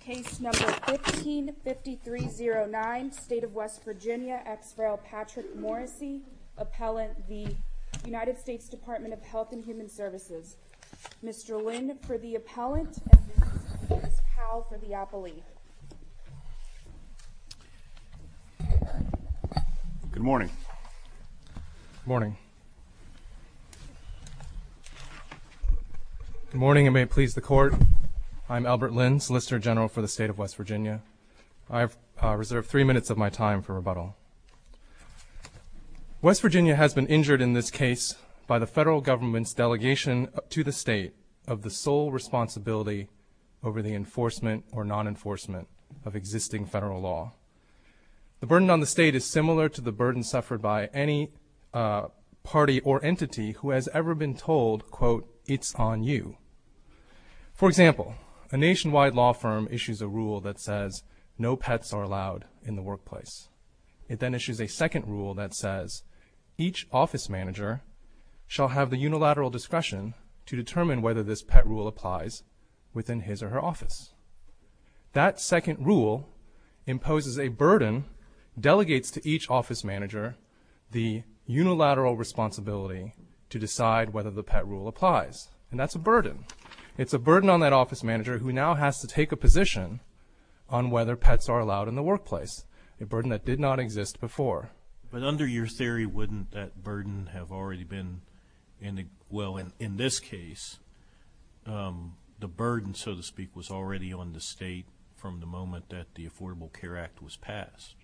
Case No. 15-5309, State of West Virginia, Ex Rail Patrick Morrissey, Appellant, the United States Department of Health and Human Services. Mr. Lin for the Appellant and Ms. Powell for the Appellee. Good morning. Good morning. Good morning and may it please the Court, I'm Albert Lin, Solicitor General for the State of West Virginia. I have reserved three minutes of my time for rebuttal. West Virginia has been injured in this case by the federal government's delegation to the state of the sole responsibility over the enforcement or non-enforcement of existing federal law. The burden on the state is similar to the burden suffered by any party or entity who has ever been told, quote, it's on you. For example, a nationwide law firm issues a rule that says no pets are allowed in the workplace. It then issues a second rule that says each office manager shall have the unilateral discretion to determine whether this pet rule applies within his or her office. That second rule imposes a burden, delegates to each office manager the unilateral responsibility to decide whether the pet rule applies. And that's a burden. It's a burden on that office manager who now has to take a position on whether pets are allowed in the workplace, a burden that did not exist before. But under your theory, wouldn't that burden have already been, well, in this case, the burden, so to speak, was already on the state from the moment that the Affordable Care Act was passed?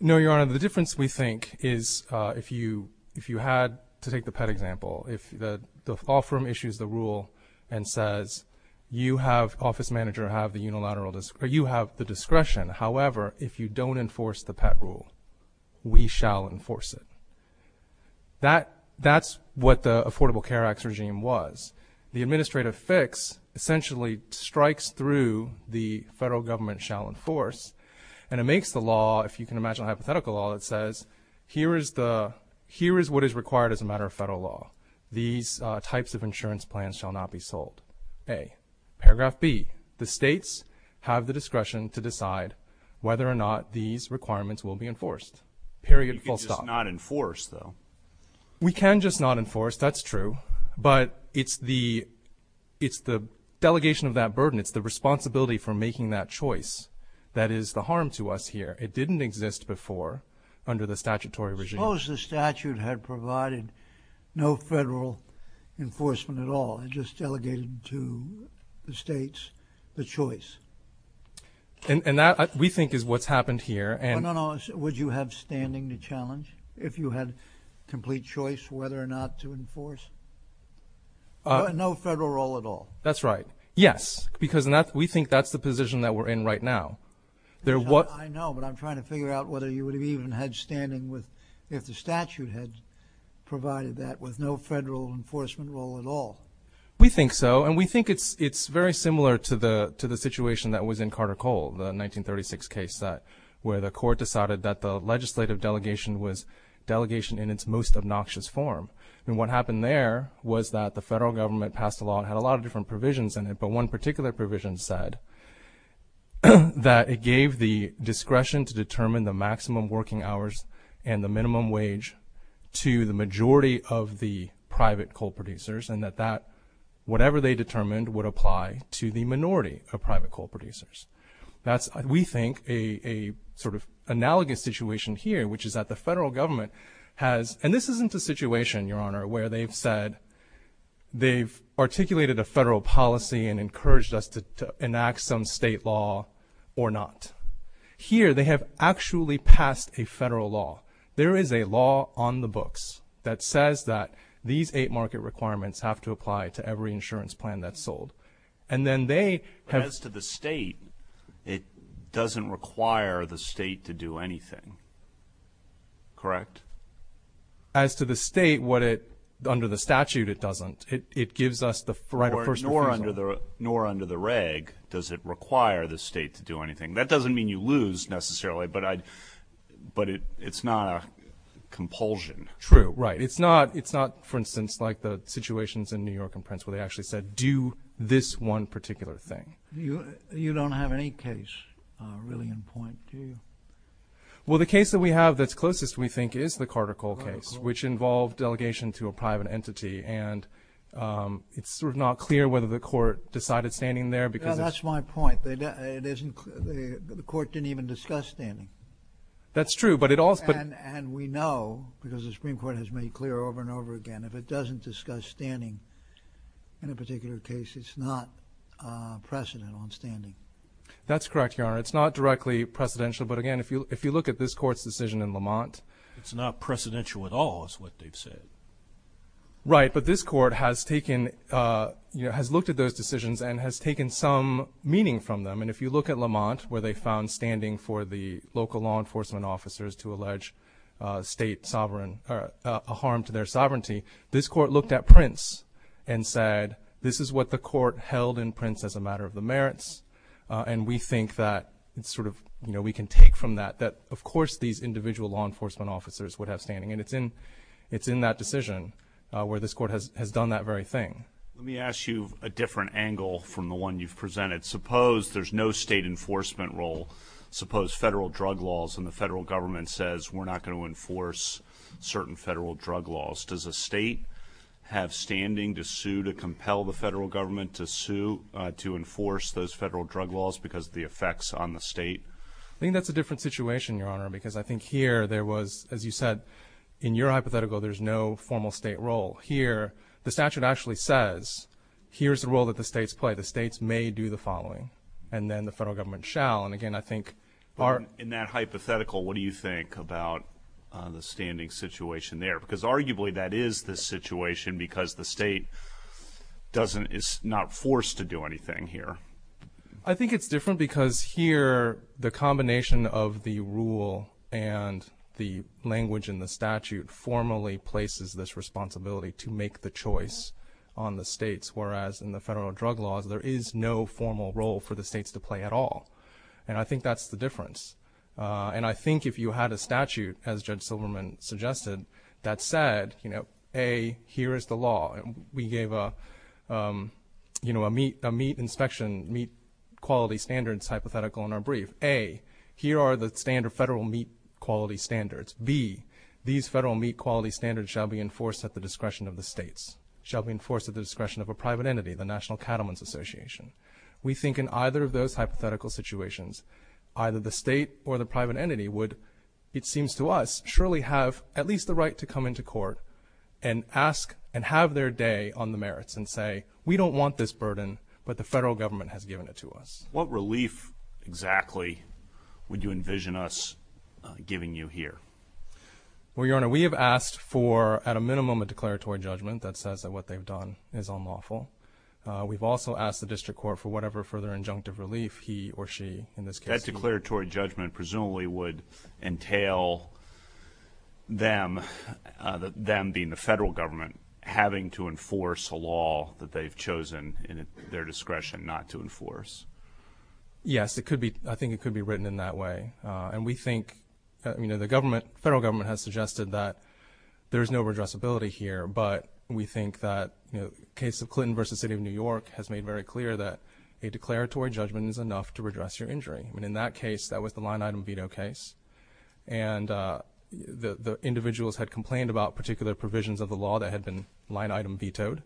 No, Your Honor. The difference, we think, is if you had to take the pet example, if the law firm issues the rule and says you have, office manager, have the unilateral, you have the discretion. However, if you don't enforce the pet rule, we shall enforce it. That's what the Affordable Care Act's regime was. The administrative fix essentially strikes through the federal government shall enforce. And it makes the law, if you can imagine a hypothetical law, it says here is what is required as a matter of federal law. Paragraph B, the states have the discretion to decide whether or not these requirements will be enforced. Period, full stop. You can just not enforce, though. We can just not enforce, that's true. But it's the delegation of that burden, it's the responsibility for making that choice that is the harm to us here. It didn't exist before under the statutory regime. I suppose the statute had provided no federal enforcement at all. It just delegated to the states the choice. And that, we think, is what's happened here. No, no, no. Would you have standing to challenge if you had complete choice whether or not to enforce? No federal role at all. That's right. Yes, because we think that's the position that we're in right now. I know, but I'm trying to figure out whether you would have even had standing if the statute had provided that with no federal enforcement role at all. We think so. And we think it's very similar to the situation that was in Carter Cole, the 1936 case where the court decided that the legislative delegation was delegation in its most obnoxious form. And what happened there was that the federal government passed a law. It had a lot of different provisions in it. But one particular provision said that it gave the discretion to determine the maximum working hours and the minimum wage to the majority of the private coal producers, and that whatever they determined would apply to the minority of private coal producers. That's, we think, a sort of analogous situation here, which is that the federal government has – to enact some state law or not. Here, they have actually passed a federal law. There is a law on the books that says that these eight market requirements have to apply to every insurance plan that's sold. And then they have – But as to the state, it doesn't require the state to do anything, correct? As to the state, what it – under the statute, it doesn't. It gives us the right of first refusal. Nor under the reg does it require the state to do anything. That doesn't mean you lose, necessarily, but it's not a compulsion. True. Right. It's not, for instance, like the situations in New York and Prince, where they actually said, do this one particular thing. You don't have any case really in point, do you? Well, the case that we have that's closest, we think, is the Carter-Cole case, which involved delegation to a private entity. And it's sort of not clear whether the court decided standing there because it's – That's my point. It isn't – the court didn't even discuss standing. That's true, but it also – And we know, because the Supreme Court has made clear over and over again, if it doesn't discuss standing in a particular case, it's not precedent on standing. That's correct, Your Honor. It's not directly precedential. But, again, if you look at this court's decision in Lamont – It's not precedential at all is what they've said. Right, but this court has taken – has looked at those decisions and has taken some meaning from them. And if you look at Lamont, where they found standing for the local law enforcement officers to allege state sovereign – a harm to their sovereignty, this court looked at Prince and said, this is what the court held in Prince as a matter of the merits, and we think that it's sort of – we can take from that that, of course, these individual law enforcement officers would have standing. And it's in that decision where this court has done that very thing. Let me ask you a different angle from the one you've presented. Suppose there's no state enforcement role. Suppose federal drug laws and the federal government says, we're not going to enforce certain federal drug laws. Does a state have standing to sue, to compel the federal government to sue, to enforce those federal drug laws because of the effects on the state? I think that's a different situation, Your Honor, because I think here there was – as you said, in your hypothetical, there's no formal state role. Here, the statute actually says, here's the role that the states play. The states may do the following, and then the federal government shall. And again, I think – In that hypothetical, what do you think about the standing situation there? Because arguably that is the situation because the state doesn't – is not forced to do anything here. I think it's different because here the combination of the rule and the language in the statute formally places this responsibility to make the choice on the states, whereas in the federal drug laws there is no formal role for the states to play at all. And I think that's the difference. And I think if you had a statute, as Judge Silverman suggested, that said, A, here is the law. We gave a meat inspection, meat quality standards hypothetical in our brief. A, here are the standard federal meat quality standards. B, these federal meat quality standards shall be enforced at the discretion of the states, shall be enforced at the discretion of a private entity, the National Cattlemen's Association. We think in either of those hypothetical situations, either the state or the private entity would, it seems to us, surely have at least the right to come into court and ask and have their day on the merits and say we don't want this burden, but the federal government has given it to us. What relief exactly would you envision us giving you here? Well, Your Honor, we have asked for at a minimum a declaratory judgment that says that what they've done is unlawful. We've also asked the district court for whatever further injunctive relief he or she in this case. A declaratory judgment presumably would entail them, them being the federal government, having to enforce a law that they've chosen in their discretion not to enforce. Yes, it could be. I think it could be written in that way. And we think, you know, the federal government has suggested that there is no redressability here, but we think that the case of Clinton v. City of New York has made very clear that a declaratory judgment is enough to redress your injury. And in that case, that was the line-item veto case. And the individuals had complained about particular provisions of the law that had been line-item vetoed,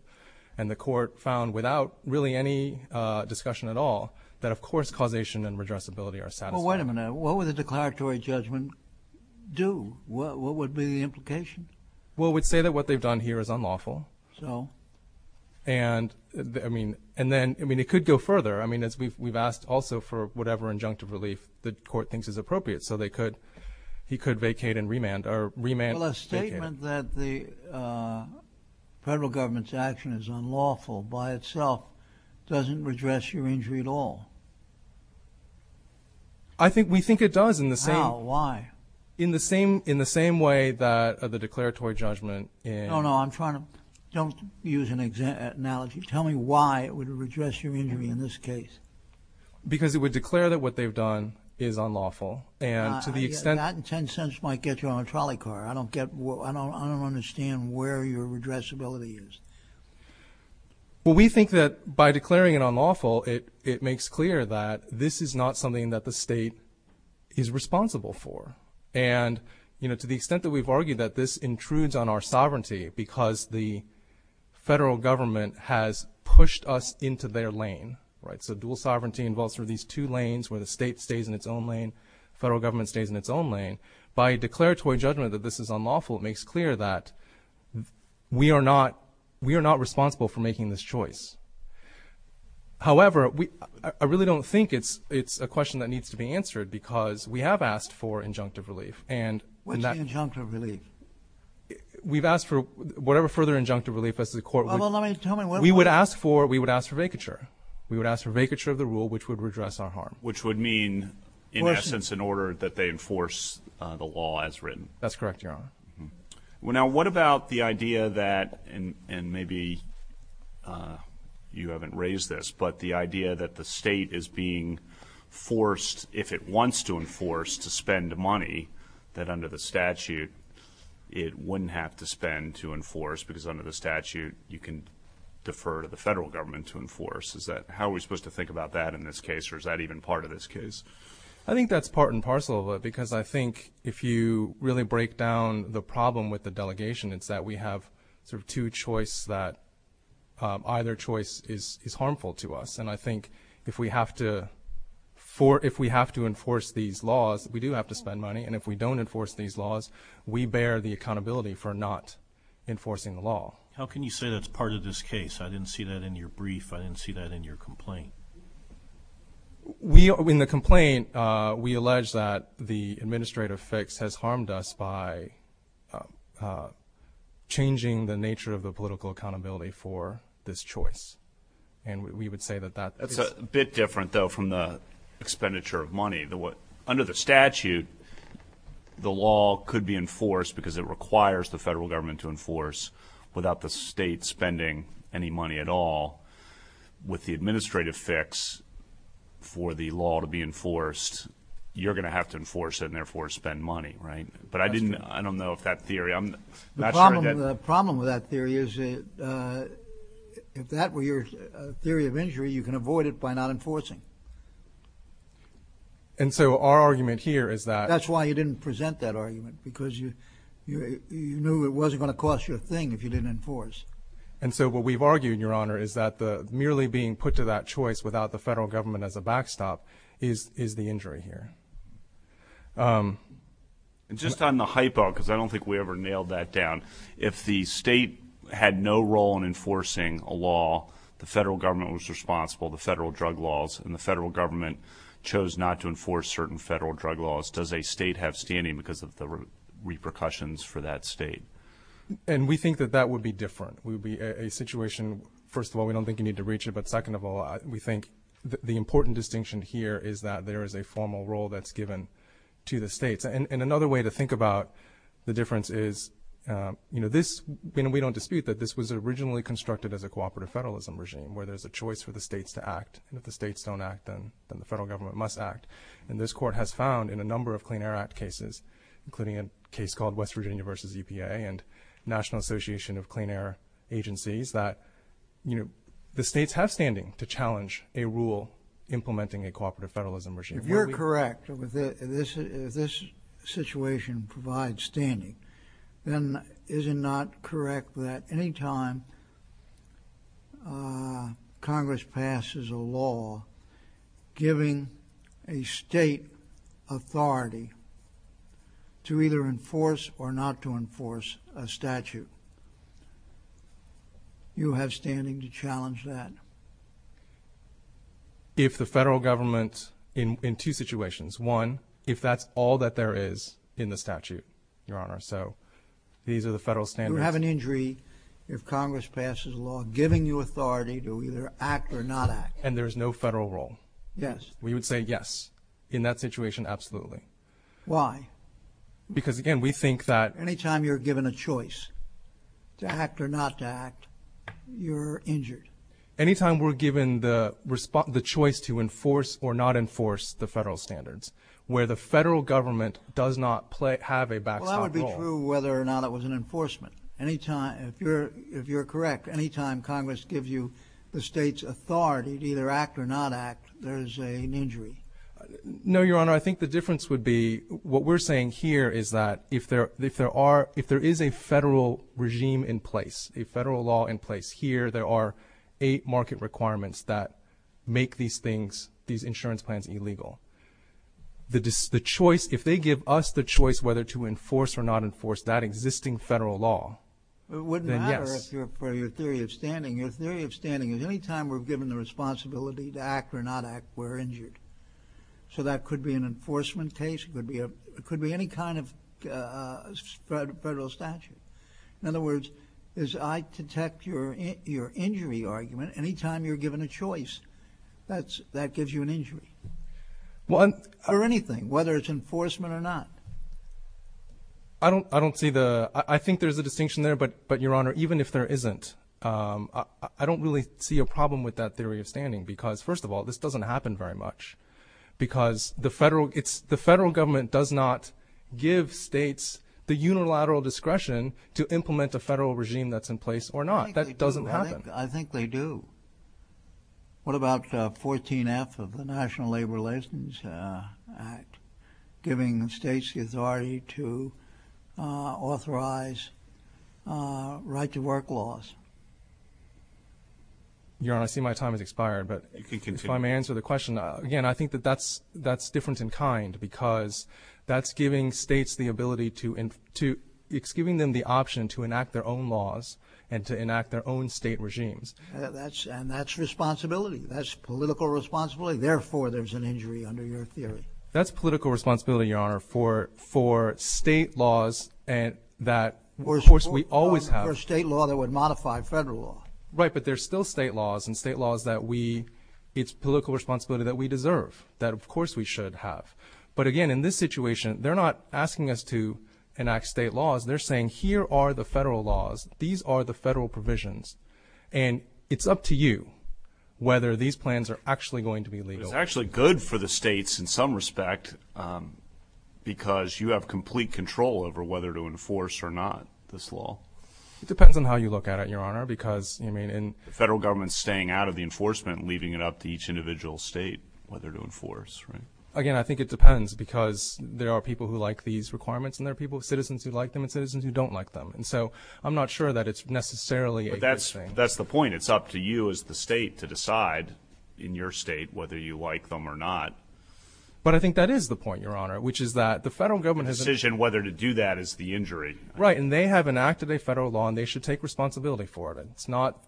and the court found without really any discussion at all that of course causation and redressability are satisfactory. Well, wait a minute. What would the declaratory judgment do? What would be the implication? Well, it would say that what they've done here is unlawful. So? And, I mean, it could go further. I mean, we've asked also for whatever injunctive relief the court thinks is appropriate. So they could-he could vacate and remand or remand-vacate. Well, a statement that the federal government's action is unlawful by itself doesn't redress your injury at all. I think-we think it does in the same- How? Why? In the same way that the declaratory judgment in- No, no, I'm trying to-don't use an analogy. Tell me why it would redress your injury in this case. Because it would declare that what they've done is unlawful. And to the extent- That in 10 cents might get you on a trolley car. I don't get-I don't understand where your redressability is. Well, we think that by declaring it unlawful, it makes clear that this is not something that the state is responsible for. And, you know, to the extent that we've argued that this intrudes on our sovereignty because the federal government has pushed us into their lane, right? So dual sovereignty involves sort of these two lanes where the state stays in its own lane, federal government stays in its own lane. By declaratory judgment that this is unlawful, it makes clear that we are not-we are not responsible for making this choice. However, we-I really don't think it's-it's a question that needs to be answered because we have asked for injunctive relief and- What's injunctive relief? We've asked for-whatever further injunctive relief the court would- Well, let me-tell me- We would ask for-we would ask for vacature. We would ask for vacature of the rule which would redress our harm. Which would mean, in essence, an order that they enforce the law as written. That's correct, Your Honor. Now, what about the idea that-and maybe you haven't raised this- but the idea that the state is being forced, if it wants to enforce, to spend money that under the statute it wouldn't have to spend to enforce because under the statute you can defer to the federal government to enforce. Is that-how are we supposed to think about that in this case, or is that even part of this case? I think that's part and parcel of it because I think if you really break down the problem with the delegation, it's that we have sort of two choices that-either choice is harmful to us. And I think if we have to-if we have to enforce these laws, we do have to spend money. And if we don't enforce these laws, we bear the accountability for not enforcing the law. How can you say that's part of this case? I didn't see that in your brief. I didn't see that in your complaint. We-in the complaint we allege that the administrative fix has harmed us by changing the nature of the political accountability for this choice. And we would say that that is- That's a bit different, though, from the expenditure of money. Under the statute, the law could be enforced because it requires the federal government to enforce without the state spending any money at all. With the administrative fix for the law to be enforced, you're going to have to enforce it and therefore spend money, right? But I didn't-I don't know if that theory-I'm not sure- you can avoid it by not enforcing. And so our argument here is that- That's why you didn't present that argument because you knew it wasn't going to cost you a thing if you didn't enforce. And so what we've argued, Your Honor, is that merely being put to that choice without the federal government as a backstop is the injury here. And just on the hypo, because I don't think we ever nailed that down, if the state had no role in enforcing a law, the federal government was responsible, the federal drug laws, and the federal government chose not to enforce certain federal drug laws, does a state have standing because of the repercussions for that state? And we think that that would be different. It would be a situation, first of all, we don't think you need to reach it, but second of all, we think the important distinction here is that there is a formal role that's given to the states. And another way to think about the difference is, you know, we don't dispute that this was originally constructed as a cooperative federalism regime where there's a choice for the states to act. And if the states don't act, then the federal government must act. And this Court has found in a number of Clean Air Act cases, including a case called West Virginia v. EPA and National Association of Clean Air Agencies, that the states have standing to challenge a rule implementing a cooperative federalism regime. If you're correct, if this situation provides standing, then is it not correct that anytime Congress passes a law giving a state authority to either enforce or not to enforce a statute, you have standing to challenge that? If the federal government, in two situations, one, if that's all that there is in the statute, Your Honor. So these are the federal standards. You have an injury if Congress passes a law giving you authority to either act or not act. And there is no federal role. Yes. We would say yes, in that situation, absolutely. Why? Because again, we think that... Anytime you're given a choice to act or not to act, you're injured. Anytime we're given the choice to enforce or not enforce the federal standards, where the federal government does not have a backstop role. Well, that would be true whether or not it was an enforcement. If you're correct, anytime Congress gives you the state's authority to either act or not act, there is an injury. No, Your Honor. I think the difference would be what we're saying here is that if there is a federal regime in place, a federal law in place here, there are eight market requirements that make these things, these insurance plans, illegal. If they give us the choice whether to enforce or not enforce that existing federal law, then yes. It wouldn't matter for your theory of standing. Your theory of standing is anytime we're given the responsibility to act or not act, we're injured. So that could be an enforcement case. It could be any kind of federal statute. In other words, as I detect your injury argument, anytime you're given a choice, that gives you an injury or anything, whether it's enforcement or not. I don't see the – I think there's a distinction there, but, Your Honor, even if there isn't, I don't really see a problem with that theory of standing because, first of all, this doesn't happen very much because the federal government does not give states the unilateral discretion to implement a federal regime that's in place or not. That doesn't happen. I think they do. What about 14F of the National Labor Relations Act, giving states the authority to authorize right-to-work laws? Your Honor, I see my time has expired, but if I may answer the question. Again, I think that that's different in kind because that's giving states the ability to – it's giving them the option to enact their own laws and to enact their own state regimes. And that's responsibility. That's political responsibility. Therefore, there's an injury under your theory. That's political responsibility, Your Honor, for state laws that, of course, we always have. For state law that would modify federal law. Right, but there's still state laws and state laws that we – it's political responsibility that we deserve, that, of course, we should have. But again, in this situation, they're not asking us to enact state laws. They're saying here are the federal laws. These are the federal provisions. And it's up to you whether these plans are actually going to be legal. But it's actually good for the states in some respect because you have complete control over whether to enforce or not this law. It depends on how you look at it, Your Honor, because, I mean – The federal government is staying out of the enforcement and leaving it up to each individual state whether to enforce, right? Again, I think it depends because there are people who like these requirements and there are citizens who like them and citizens who don't like them. And so I'm not sure that it's necessarily a good thing. But that's the point. It's up to you as the state to decide in your state whether you like them or not. But I think that is the point, Your Honor, which is that the federal government has – The decision whether to do that is the injury. Right, and they have enacted a federal law, and they should take responsibility for it. It's not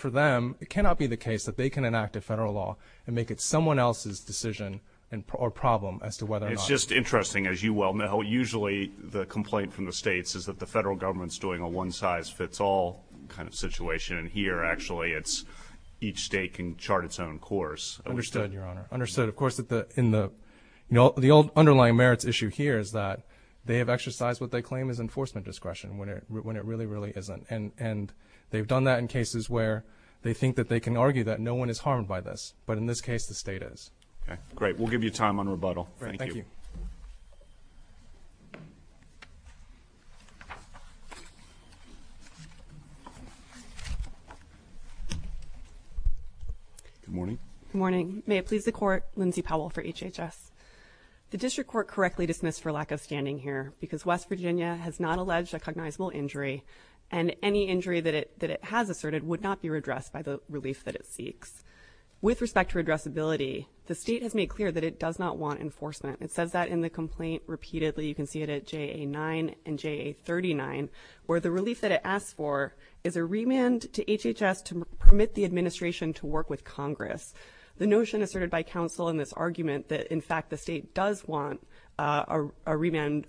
for them. It cannot be the case that they can enact a federal law and make it someone else's decision or problem as to whether or not – It's just interesting. As you well know, usually the complaint from the states is that the federal government is doing a one-size-fits-all kind of situation. And here, actually, it's each state can chart its own course. Understood, Your Honor. Understood. Of course, the underlying merits issue here is that they have exercised what they claim is enforcement discretion when it really, really isn't. And they've done that in cases where they think that they can argue that no one is harmed by this. But in this case, the state is. Okay, great. We'll give you time on rebuttal. Thank you. Good morning. Good morning. May it please the Court, Lindsay Powell for HHS. The district court correctly dismissed for lack of standing here because West Virginia has not alleged a cognizable injury and any injury that it has asserted would not be redressed by the relief that it seeks. With respect to addressability, the state has made clear that it does not want enforcement. It says that in the complaint repeatedly. You can see it at JA-9 and JA-39, where the relief that it asks for is a remand to HHS to permit the administration to work with Congress. The notion asserted by counsel in this argument that, in fact, the state does want a remand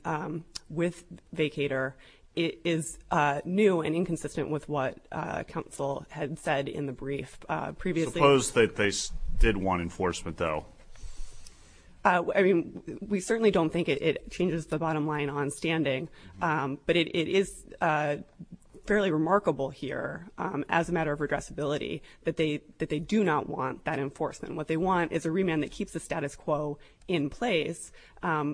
with vacator is new and inconsistent with what counsel had said in the brief previously. Suppose that they did want enforcement, though. I mean, we certainly don't think it changes the bottom line on standing. But it is fairly remarkable here, as a matter of redressability, that they do not want that enforcement. What they want is a remand that keeps the status quo in place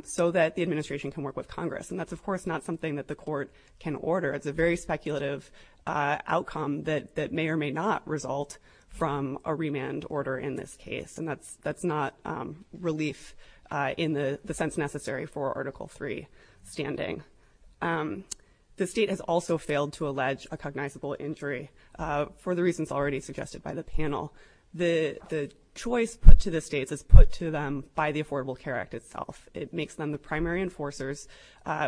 so that the administration can work with Congress. And that's, of course, not something that the court can order. It's a very speculative outcome that may or may not result from a remand order in this case. And that's not relief in the sense necessary for Article III standing. The state has also failed to allege a cognizable injury, for the reasons already suggested by the panel. The choice put to the states is put to them by the Affordable Care Act itself. It makes them the primary enforcers,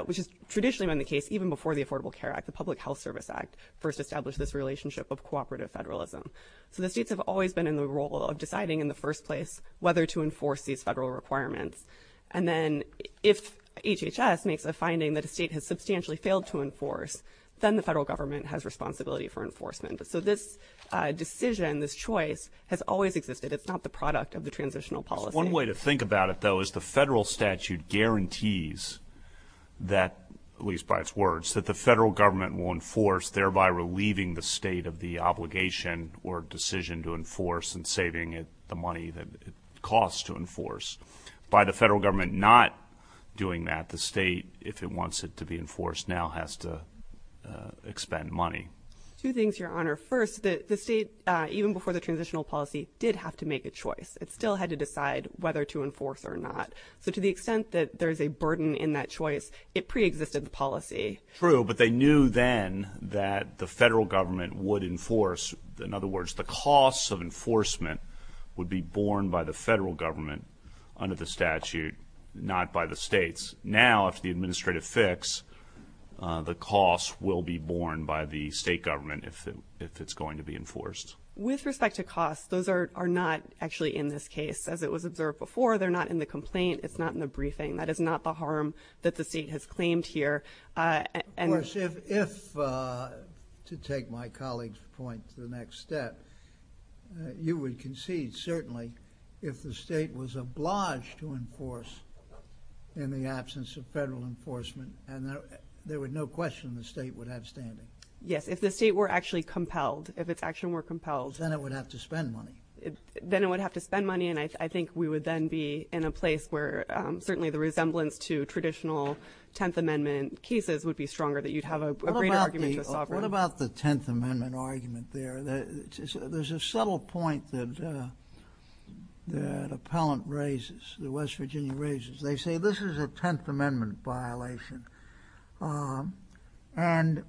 which has traditionally been the case even before the Affordable Care Act. The Public Health Service Act first established this relationship of cooperative federalism. So the states have always been in the role of deciding in the first place whether to enforce these federal requirements. And then if HHS makes a finding that a state has substantially failed to enforce, then the federal government has responsibility for enforcement. So this decision, this choice, has always existed. It's not the product of the transitional policy. One way to think about it, though, is the federal statute guarantees that, at least by its words, that the federal government will enforce, thereby relieving the state of the obligation or decision to enforce and saving it the money that it costs to enforce. By the federal government not doing that, the state, if it wants it to be enforced now, has to expend money. Two things, Your Honor. First, the state, even before the transitional policy, did have to make a choice. It still had to decide whether to enforce or not. So to the extent that there's a burden in that choice, it preexisted the policy. True, but they knew then that the federal government would enforce. In other words, the costs of enforcement would be borne by the federal government under the statute, not by the states. Now, after the administrative fix, the costs will be borne by the state government if it's going to be enforced. With respect to costs, those are not actually in this case. As it was observed before, they're not in the complaint. It's not in the briefing. That is not the harm that the state has claimed here. Of course, if, to take my colleague's point to the next step, you would concede, certainly, if the state was obliged to enforce in the absence of federal enforcement, there would be no question the state would have standing. Yes, if the state were actually compelled. If its action were compelled. Then it would have to spend money. Then it would have to spend money, and I think we would then be in a place where certainly the resemblance to traditional Tenth Amendment cases would be stronger, that you'd have a greater argument to a sovereign. What about the Tenth Amendment argument there? There's a subtle point that an appellant raises, that West Virginia raises. They say this is a Tenth Amendment violation, and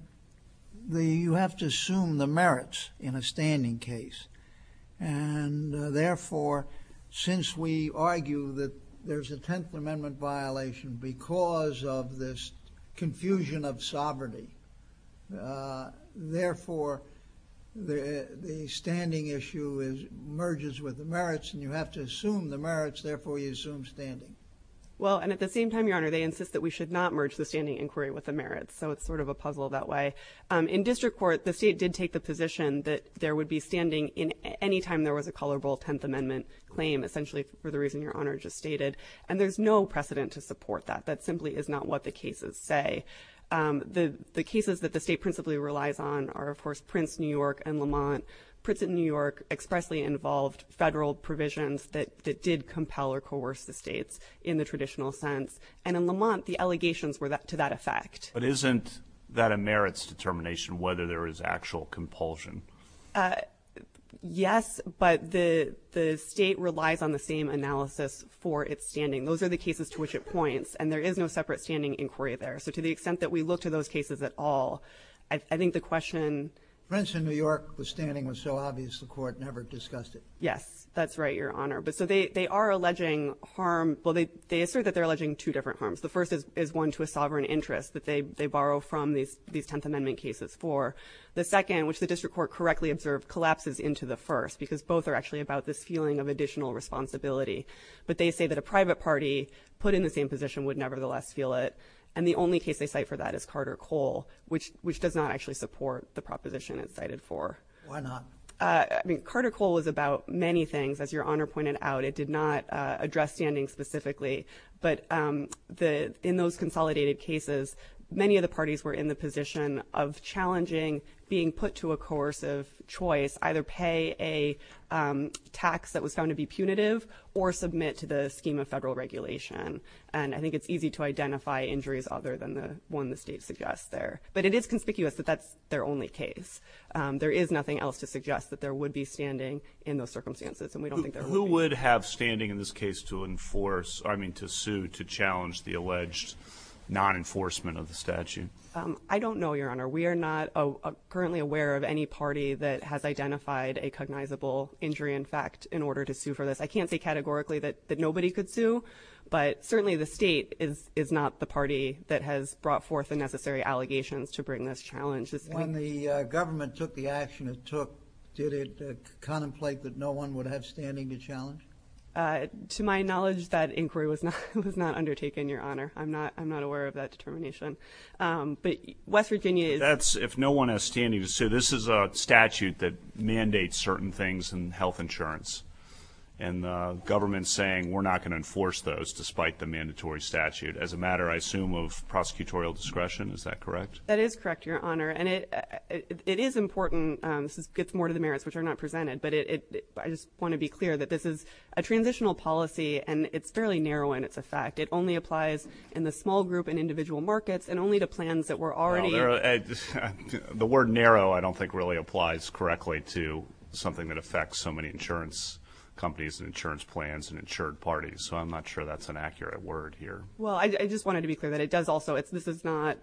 you have to assume the merits in a standing case. Therefore, since we argue that there's a Tenth Amendment violation because of this confusion of sovereignty, therefore the standing issue merges with the merits, and you have to assume the merits, therefore you assume standing. Well, and at the same time, Your Honor, they insist that we should not merge the standing inquiry with the merits, so it's sort of a puzzle that way. In district court, the state did take the position that there would be standing any time there was a colorable Tenth Amendment claim, essentially for the reason Your Honor just stated, and there's no precedent to support that. That simply is not what the cases say. The cases that the state principally relies on are, of course, Prince, New York, and Lamont. Prince and New York expressly involved federal provisions that did compel or coerce the states in the traditional sense, and in Lamont, the allegations were to that effect. But isn't that a merits determination, whether there is actual compulsion? Yes, but the state relies on the same analysis for its standing. Those are the cases to which it points, and there is no separate standing inquiry there. So to the extent that we look to those cases at all, I think the question... Prince and New York, the standing was so obvious, the court never discussed it. Yes, that's right, Your Honor. So they are alleging harm. Well, they assert that they're alleging two different harms. The first is one to a sovereign interest that they borrow from these Tenth Amendment cases for. The second, which the district court correctly observed, collapses into the first, because both are actually about this feeling of additional responsibility. But they say that a private party put in the same position would nevertheless feel it, and the only case they cite for that is Carter-Cole, which does not actually support the proposition it's cited for. Why not? Carter-Cole was about many things, as Your Honor pointed out. It did not address standing specifically, but in those consolidated cases, many of the parties were in the position of challenging being put to a course of choice, either pay a tax that was found to be punitive or submit to the scheme of federal regulation. And I think it's easy to identify injuries other than the one the state suggests there. But it is conspicuous that that's their only case. There is nothing else to suggest that there would be standing in those circumstances, and we don't think there will be. Would it have standing in this case to enforce, I mean to sue, to challenge the alleged non-enforcement of the statute? I don't know, Your Honor. We are not currently aware of any party that has identified a cognizable injury in fact in order to sue for this. I can't say categorically that nobody could sue, but certainly the state is not the party that has brought forth the necessary allegations to bring this challenge. When the government took the action it took, did it contemplate that no one would have standing to challenge? To my knowledge, that inquiry was not undertaken, Your Honor. I'm not aware of that determination. But West Virginia is... That's if no one has standing to sue. This is a statute that mandates certain things in health insurance. And the government is saying we're not going to enforce those despite the mandatory statute, as a matter, I assume, of prosecutorial discretion. Is that correct? That is correct, Your Honor. And it is important. This gets more to the merits which are not presented. But I just want to be clear that this is a transitional policy and it's fairly narrow in its effect. It only applies in the small group and individual markets and only to plans that were already... The word narrow I don't think really applies correctly to something that affects so many insurance companies and insurance plans and insured parties. So I'm not sure that's an accurate word here. Well, I just wanted to be clear that it does also. This is not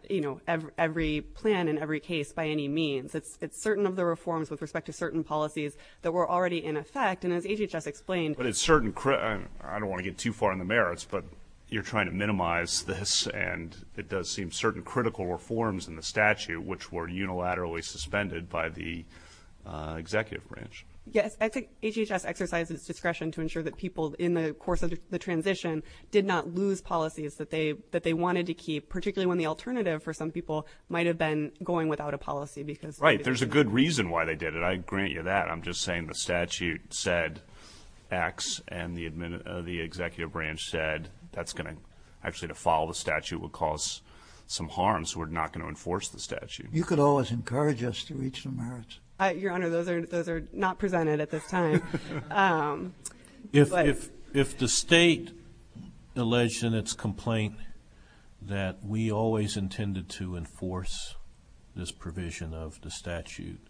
every plan in every case by any means. It's certain of the reforms with respect to certain policies that were already in effect. And as HHS explained... But it's certain... I don't want to get too far in the merits, but you're trying to minimize this. And it does seem certain critical reforms in the statute which were unilaterally suspended by the executive branch. Yes. I think HHS exercised its discretion to ensure that people in the course of the transition did not lose policies that they wanted to keep, particularly when the alternative for some people might have been going without a policy because... Right. There's a good reason why they did it. I grant you that. I'm just saying the statute said X and the executive branch said that's going to... Actually, to follow the statute would cause some harm, so we're not going to enforce the statute. You could always encourage us to reach the merits. Your Honor, those are not presented at this time. If the state alleged in its complaint that we always intended to enforce this provision of the statute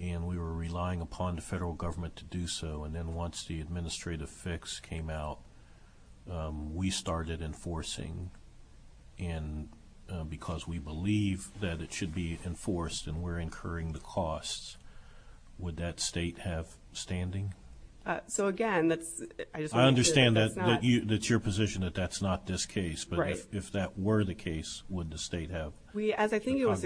and we were relying upon the federal government to do so and then once the administrative fix came out, we started enforcing and because we believe that it should be enforced and we're incurring the costs, would that state have standing? So again, that's... I understand that's your position, that that's not this case, but if that were the case, would the state have... As I think it was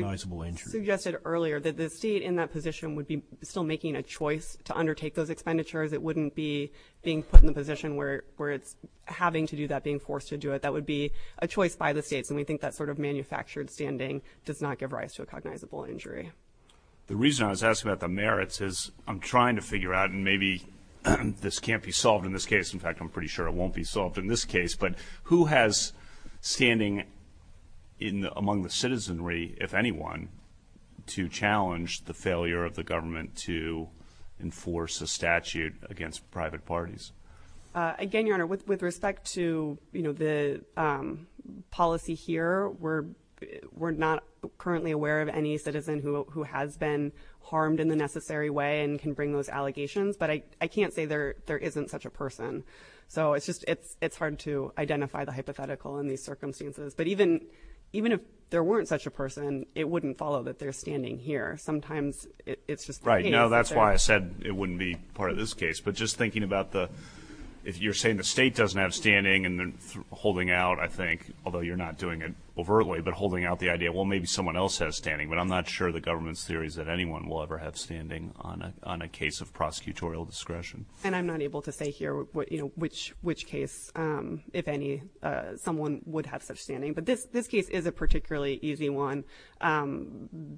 suggested earlier, that the state in that position would be still making a choice to undertake those expenditures. It wouldn't be being put in the position where it's having to do that, being forced to do it. That would be a choice by the states, and we think that sort of manufactured standing does not give rise to a cognizable injury. The reason I was asking about the merits is I'm trying to figure out, and maybe this can't be solved in this case. In fact, I'm pretty sure it won't be solved in this case, but who has standing among the citizenry, if anyone, to challenge the failure of the government to enforce a statute against private parties? Again, Your Honor, with respect to, you know, the policy here, we're not currently aware of any citizen who has been harmed in the necessary way and can bring those allegations, but I can't say there isn't such a person. So it's hard to identify the hypothetical in these circumstances, but even if there weren't such a person, it wouldn't follow that they're standing here. Sometimes it's just... Right, no, that's why I said it wouldn't be part of this case, but just thinking about the... You're saying the state doesn't have standing and they're holding out, I think, although you're not doing it overtly, but holding out the idea, well, maybe someone else has standing, but I'm not sure the government's theory is that anyone will ever have standing on a case of prosecutorial discretion. And I'm not able to say here, you know, which case, if any, someone would have such standing, but this case is a particularly easy one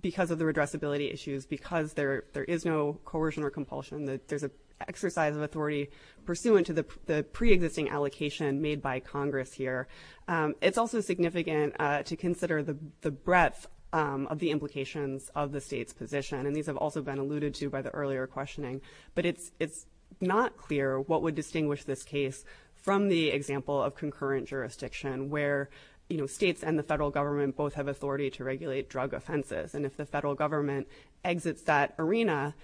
because of the redressability issues, because there is no coercion or compulsion. There's an exercise of authority pursuant to the pre-existing allocation made by Congress here. It's also significant to consider the breadth of the implications of the state's position, and these have also been alluded to by the earlier questioning. But it's not clear what would distinguish this case from the example of concurrent jurisdiction, where, you know, states and the federal government both have authority to regulate drug offences, and if the federal government exits that arena,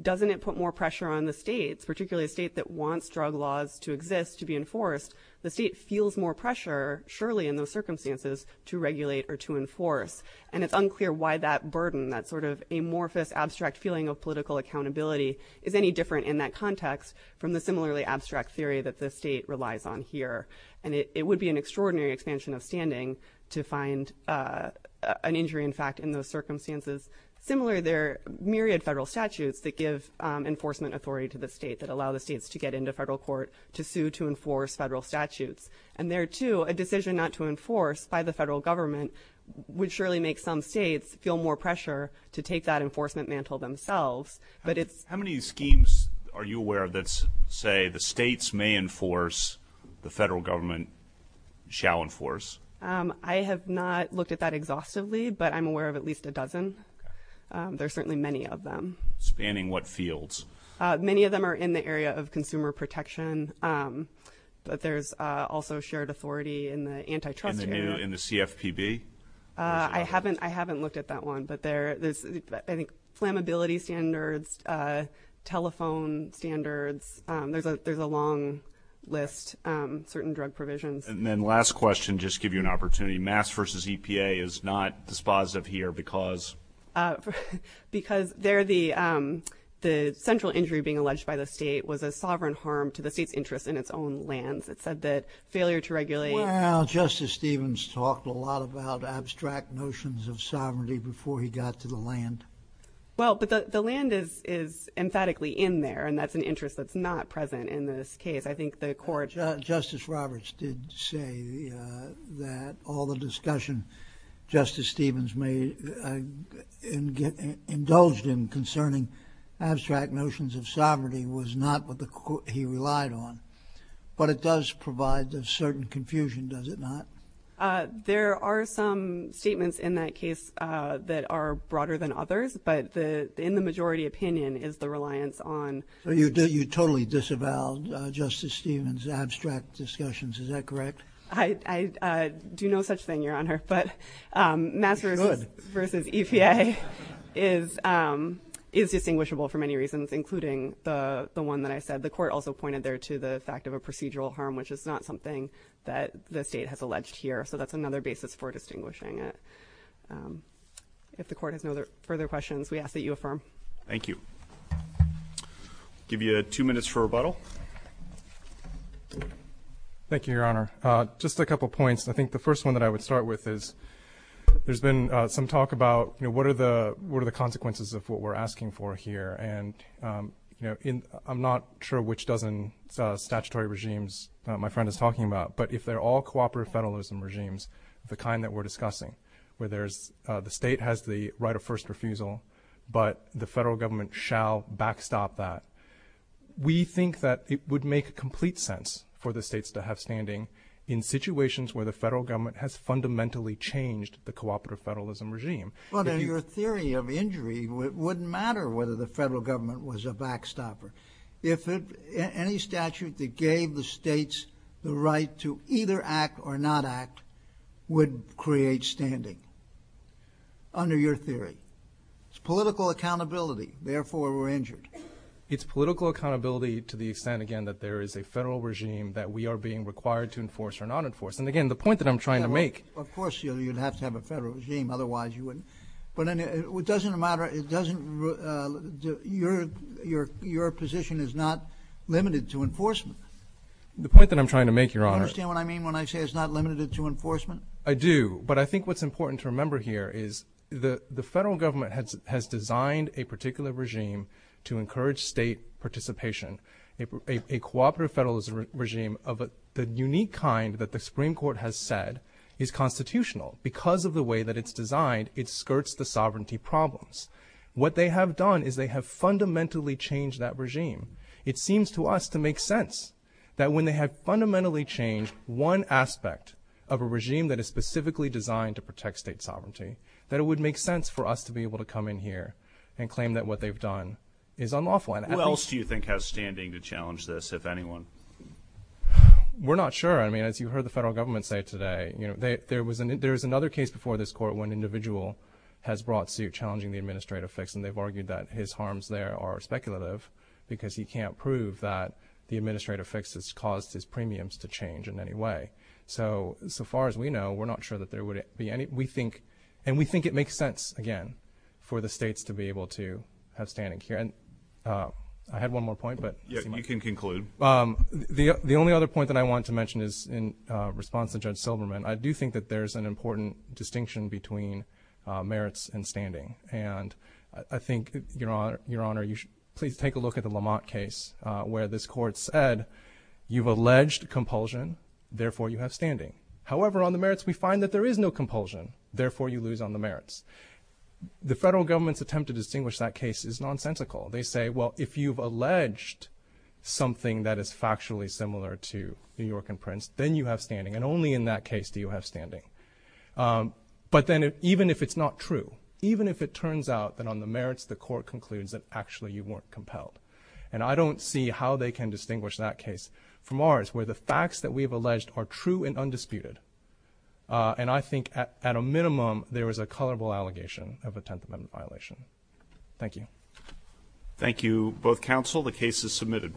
doesn't it put more pressure on the states, particularly a state that wants drug laws to exist, to be enforced? The state feels more pressure, surely in those circumstances, to regulate or to enforce. And it's unclear why that burden, that sort of amorphous, abstract feeling of political accountability, is any different in that context from the similarly abstract theory that the state relies on here. And it would be an extraordinary expansion of standing to find an injury, in fact, in those circumstances. Similarly, there are myriad federal statutes that give enforcement authority to the state, that allow the states to get into federal court to sue to enforce federal statutes. And there, too, a decision not to enforce by the federal government would surely make some states feel more pressure to take that enforcement mantle themselves. How many schemes are you aware of that say the states may enforce, the federal government shall enforce? I have not looked at that exhaustively, but I'm aware of at least a dozen. There are certainly many of them. Spanning what fields? Many of them are in the area of consumer protection, but there's also shared authority in the antitrust area. In the CFPB? I haven't looked at that one, but there's, I think, flammability standards, telephone standards. There's a long list, certain drug provisions. And then last question, just to give you an opportunity, Mass v. EPA is not dispositive here because? Because the central injury being alleged by the state was a sovereign harm to the state's interest in its own lands. It said that failure to regulate... Well, Justice Stevens talked a lot about abstract notions of sovereignty before he got to the land. Well, but the land is emphatically in there, and that's an interest that's not present in this case. I think the court... Well, the discussion Justice Stevens made and indulged in concerning abstract notions of sovereignty was not what he relied on. But it does provide a certain confusion, does it not? There are some statements in that case that are broader than others, but in the majority opinion is the reliance on... So you totally disavowed Justice Stevens' abstract discussions, is that correct? I do no such thing, Your Honor, but Mass v. EPA is distinguishable for many reasons, including the one that I said. The court also pointed there to the fact of a procedural harm, which is not something that the state has alleged here, so that's another basis for distinguishing it. If the court has no further questions, we ask that you affirm. Thank you. I'll give you two minutes for rebuttal. Thank you, Your Honor. Just a couple points. I think the first one that I would start with is there's been some talk about what are the consequences of what we're asking for here, and I'm not sure which dozen statutory regimes my friend is talking about, but if they're all cooperative federalism regimes, the kind that we're discussing, where the state has the right of first refusal, but the federal government shall backstop that. We think that it would make complete sense for the states to have standing in situations where the federal government has fundamentally changed the cooperative federalism regime. Your theory of injury wouldn't matter whether the federal government was a backstopper. Any statute that gave the states the right to either act or not act would create standing, under your theory. It's political accountability, therefore we're injured. It's political accountability to the extent, again, that there is a federal regime that we are being required to enforce or not enforce. And again, the point that I'm trying to make... Of course you'd have to have a federal regime, otherwise you wouldn't. But it doesn't matter, your position is not limited to enforcement. The point that I'm trying to make, Your Honor... Do you understand what I mean when I say it's not limited to enforcement? I do, but I think what's important to remember here is the federal government has designed a particular regime to encourage state participation. A cooperative federalism regime of the unique kind that the Supreme Court has said is constitutional. Because of the way that it's designed, it skirts the sovereignty problems. What they have done is they have fundamentally changed that regime. It seems to us to make sense that when they have fundamentally changed one aspect of a regime that is specifically designed to protect state sovereignty, that it would make sense for us to be able to come in here and claim that what they've done is unlawful. Who else do you think has standing to challenge this, if anyone? We're not sure. As you heard the federal government say today, there was another case before this Court when an individual has brought suit challenging the administrative fix, and they've argued that his harms there are speculative because he can't prove that the administrative fix has caused his premiums to change in any way. So far as we know, we're not sure that there would be any... And we think it makes sense, again, for the states to be able to have standing here. I had one more point, but... You can conclude. The only other point that I want to mention is in response to Judge Silverman, I do think that there's an important distinction between merits and standing. And I think, Your Honor, you should please take a look at the Lamont case where this Court said, you've alleged compulsion, therefore you have standing. However, on the merits, we find that there is no compulsion, therefore you lose on the merits. The federal government's attempt to distinguish that case is nonsensical. They say, well, if you've alleged something that is factually similar to New York and Prince, then you have standing, and only in that case do you have standing. But then even if it's not true, even if it turns out that on the merits, the Court concludes that actually you weren't compelled. And I don't see how they can distinguish that case from ours, where the facts that we've alleged are true and undisputed. And I think, at a minimum, there is a colorable allegation of a Tenth Amendment violation. Thank you. Thank you, both counsel. The case is submitted.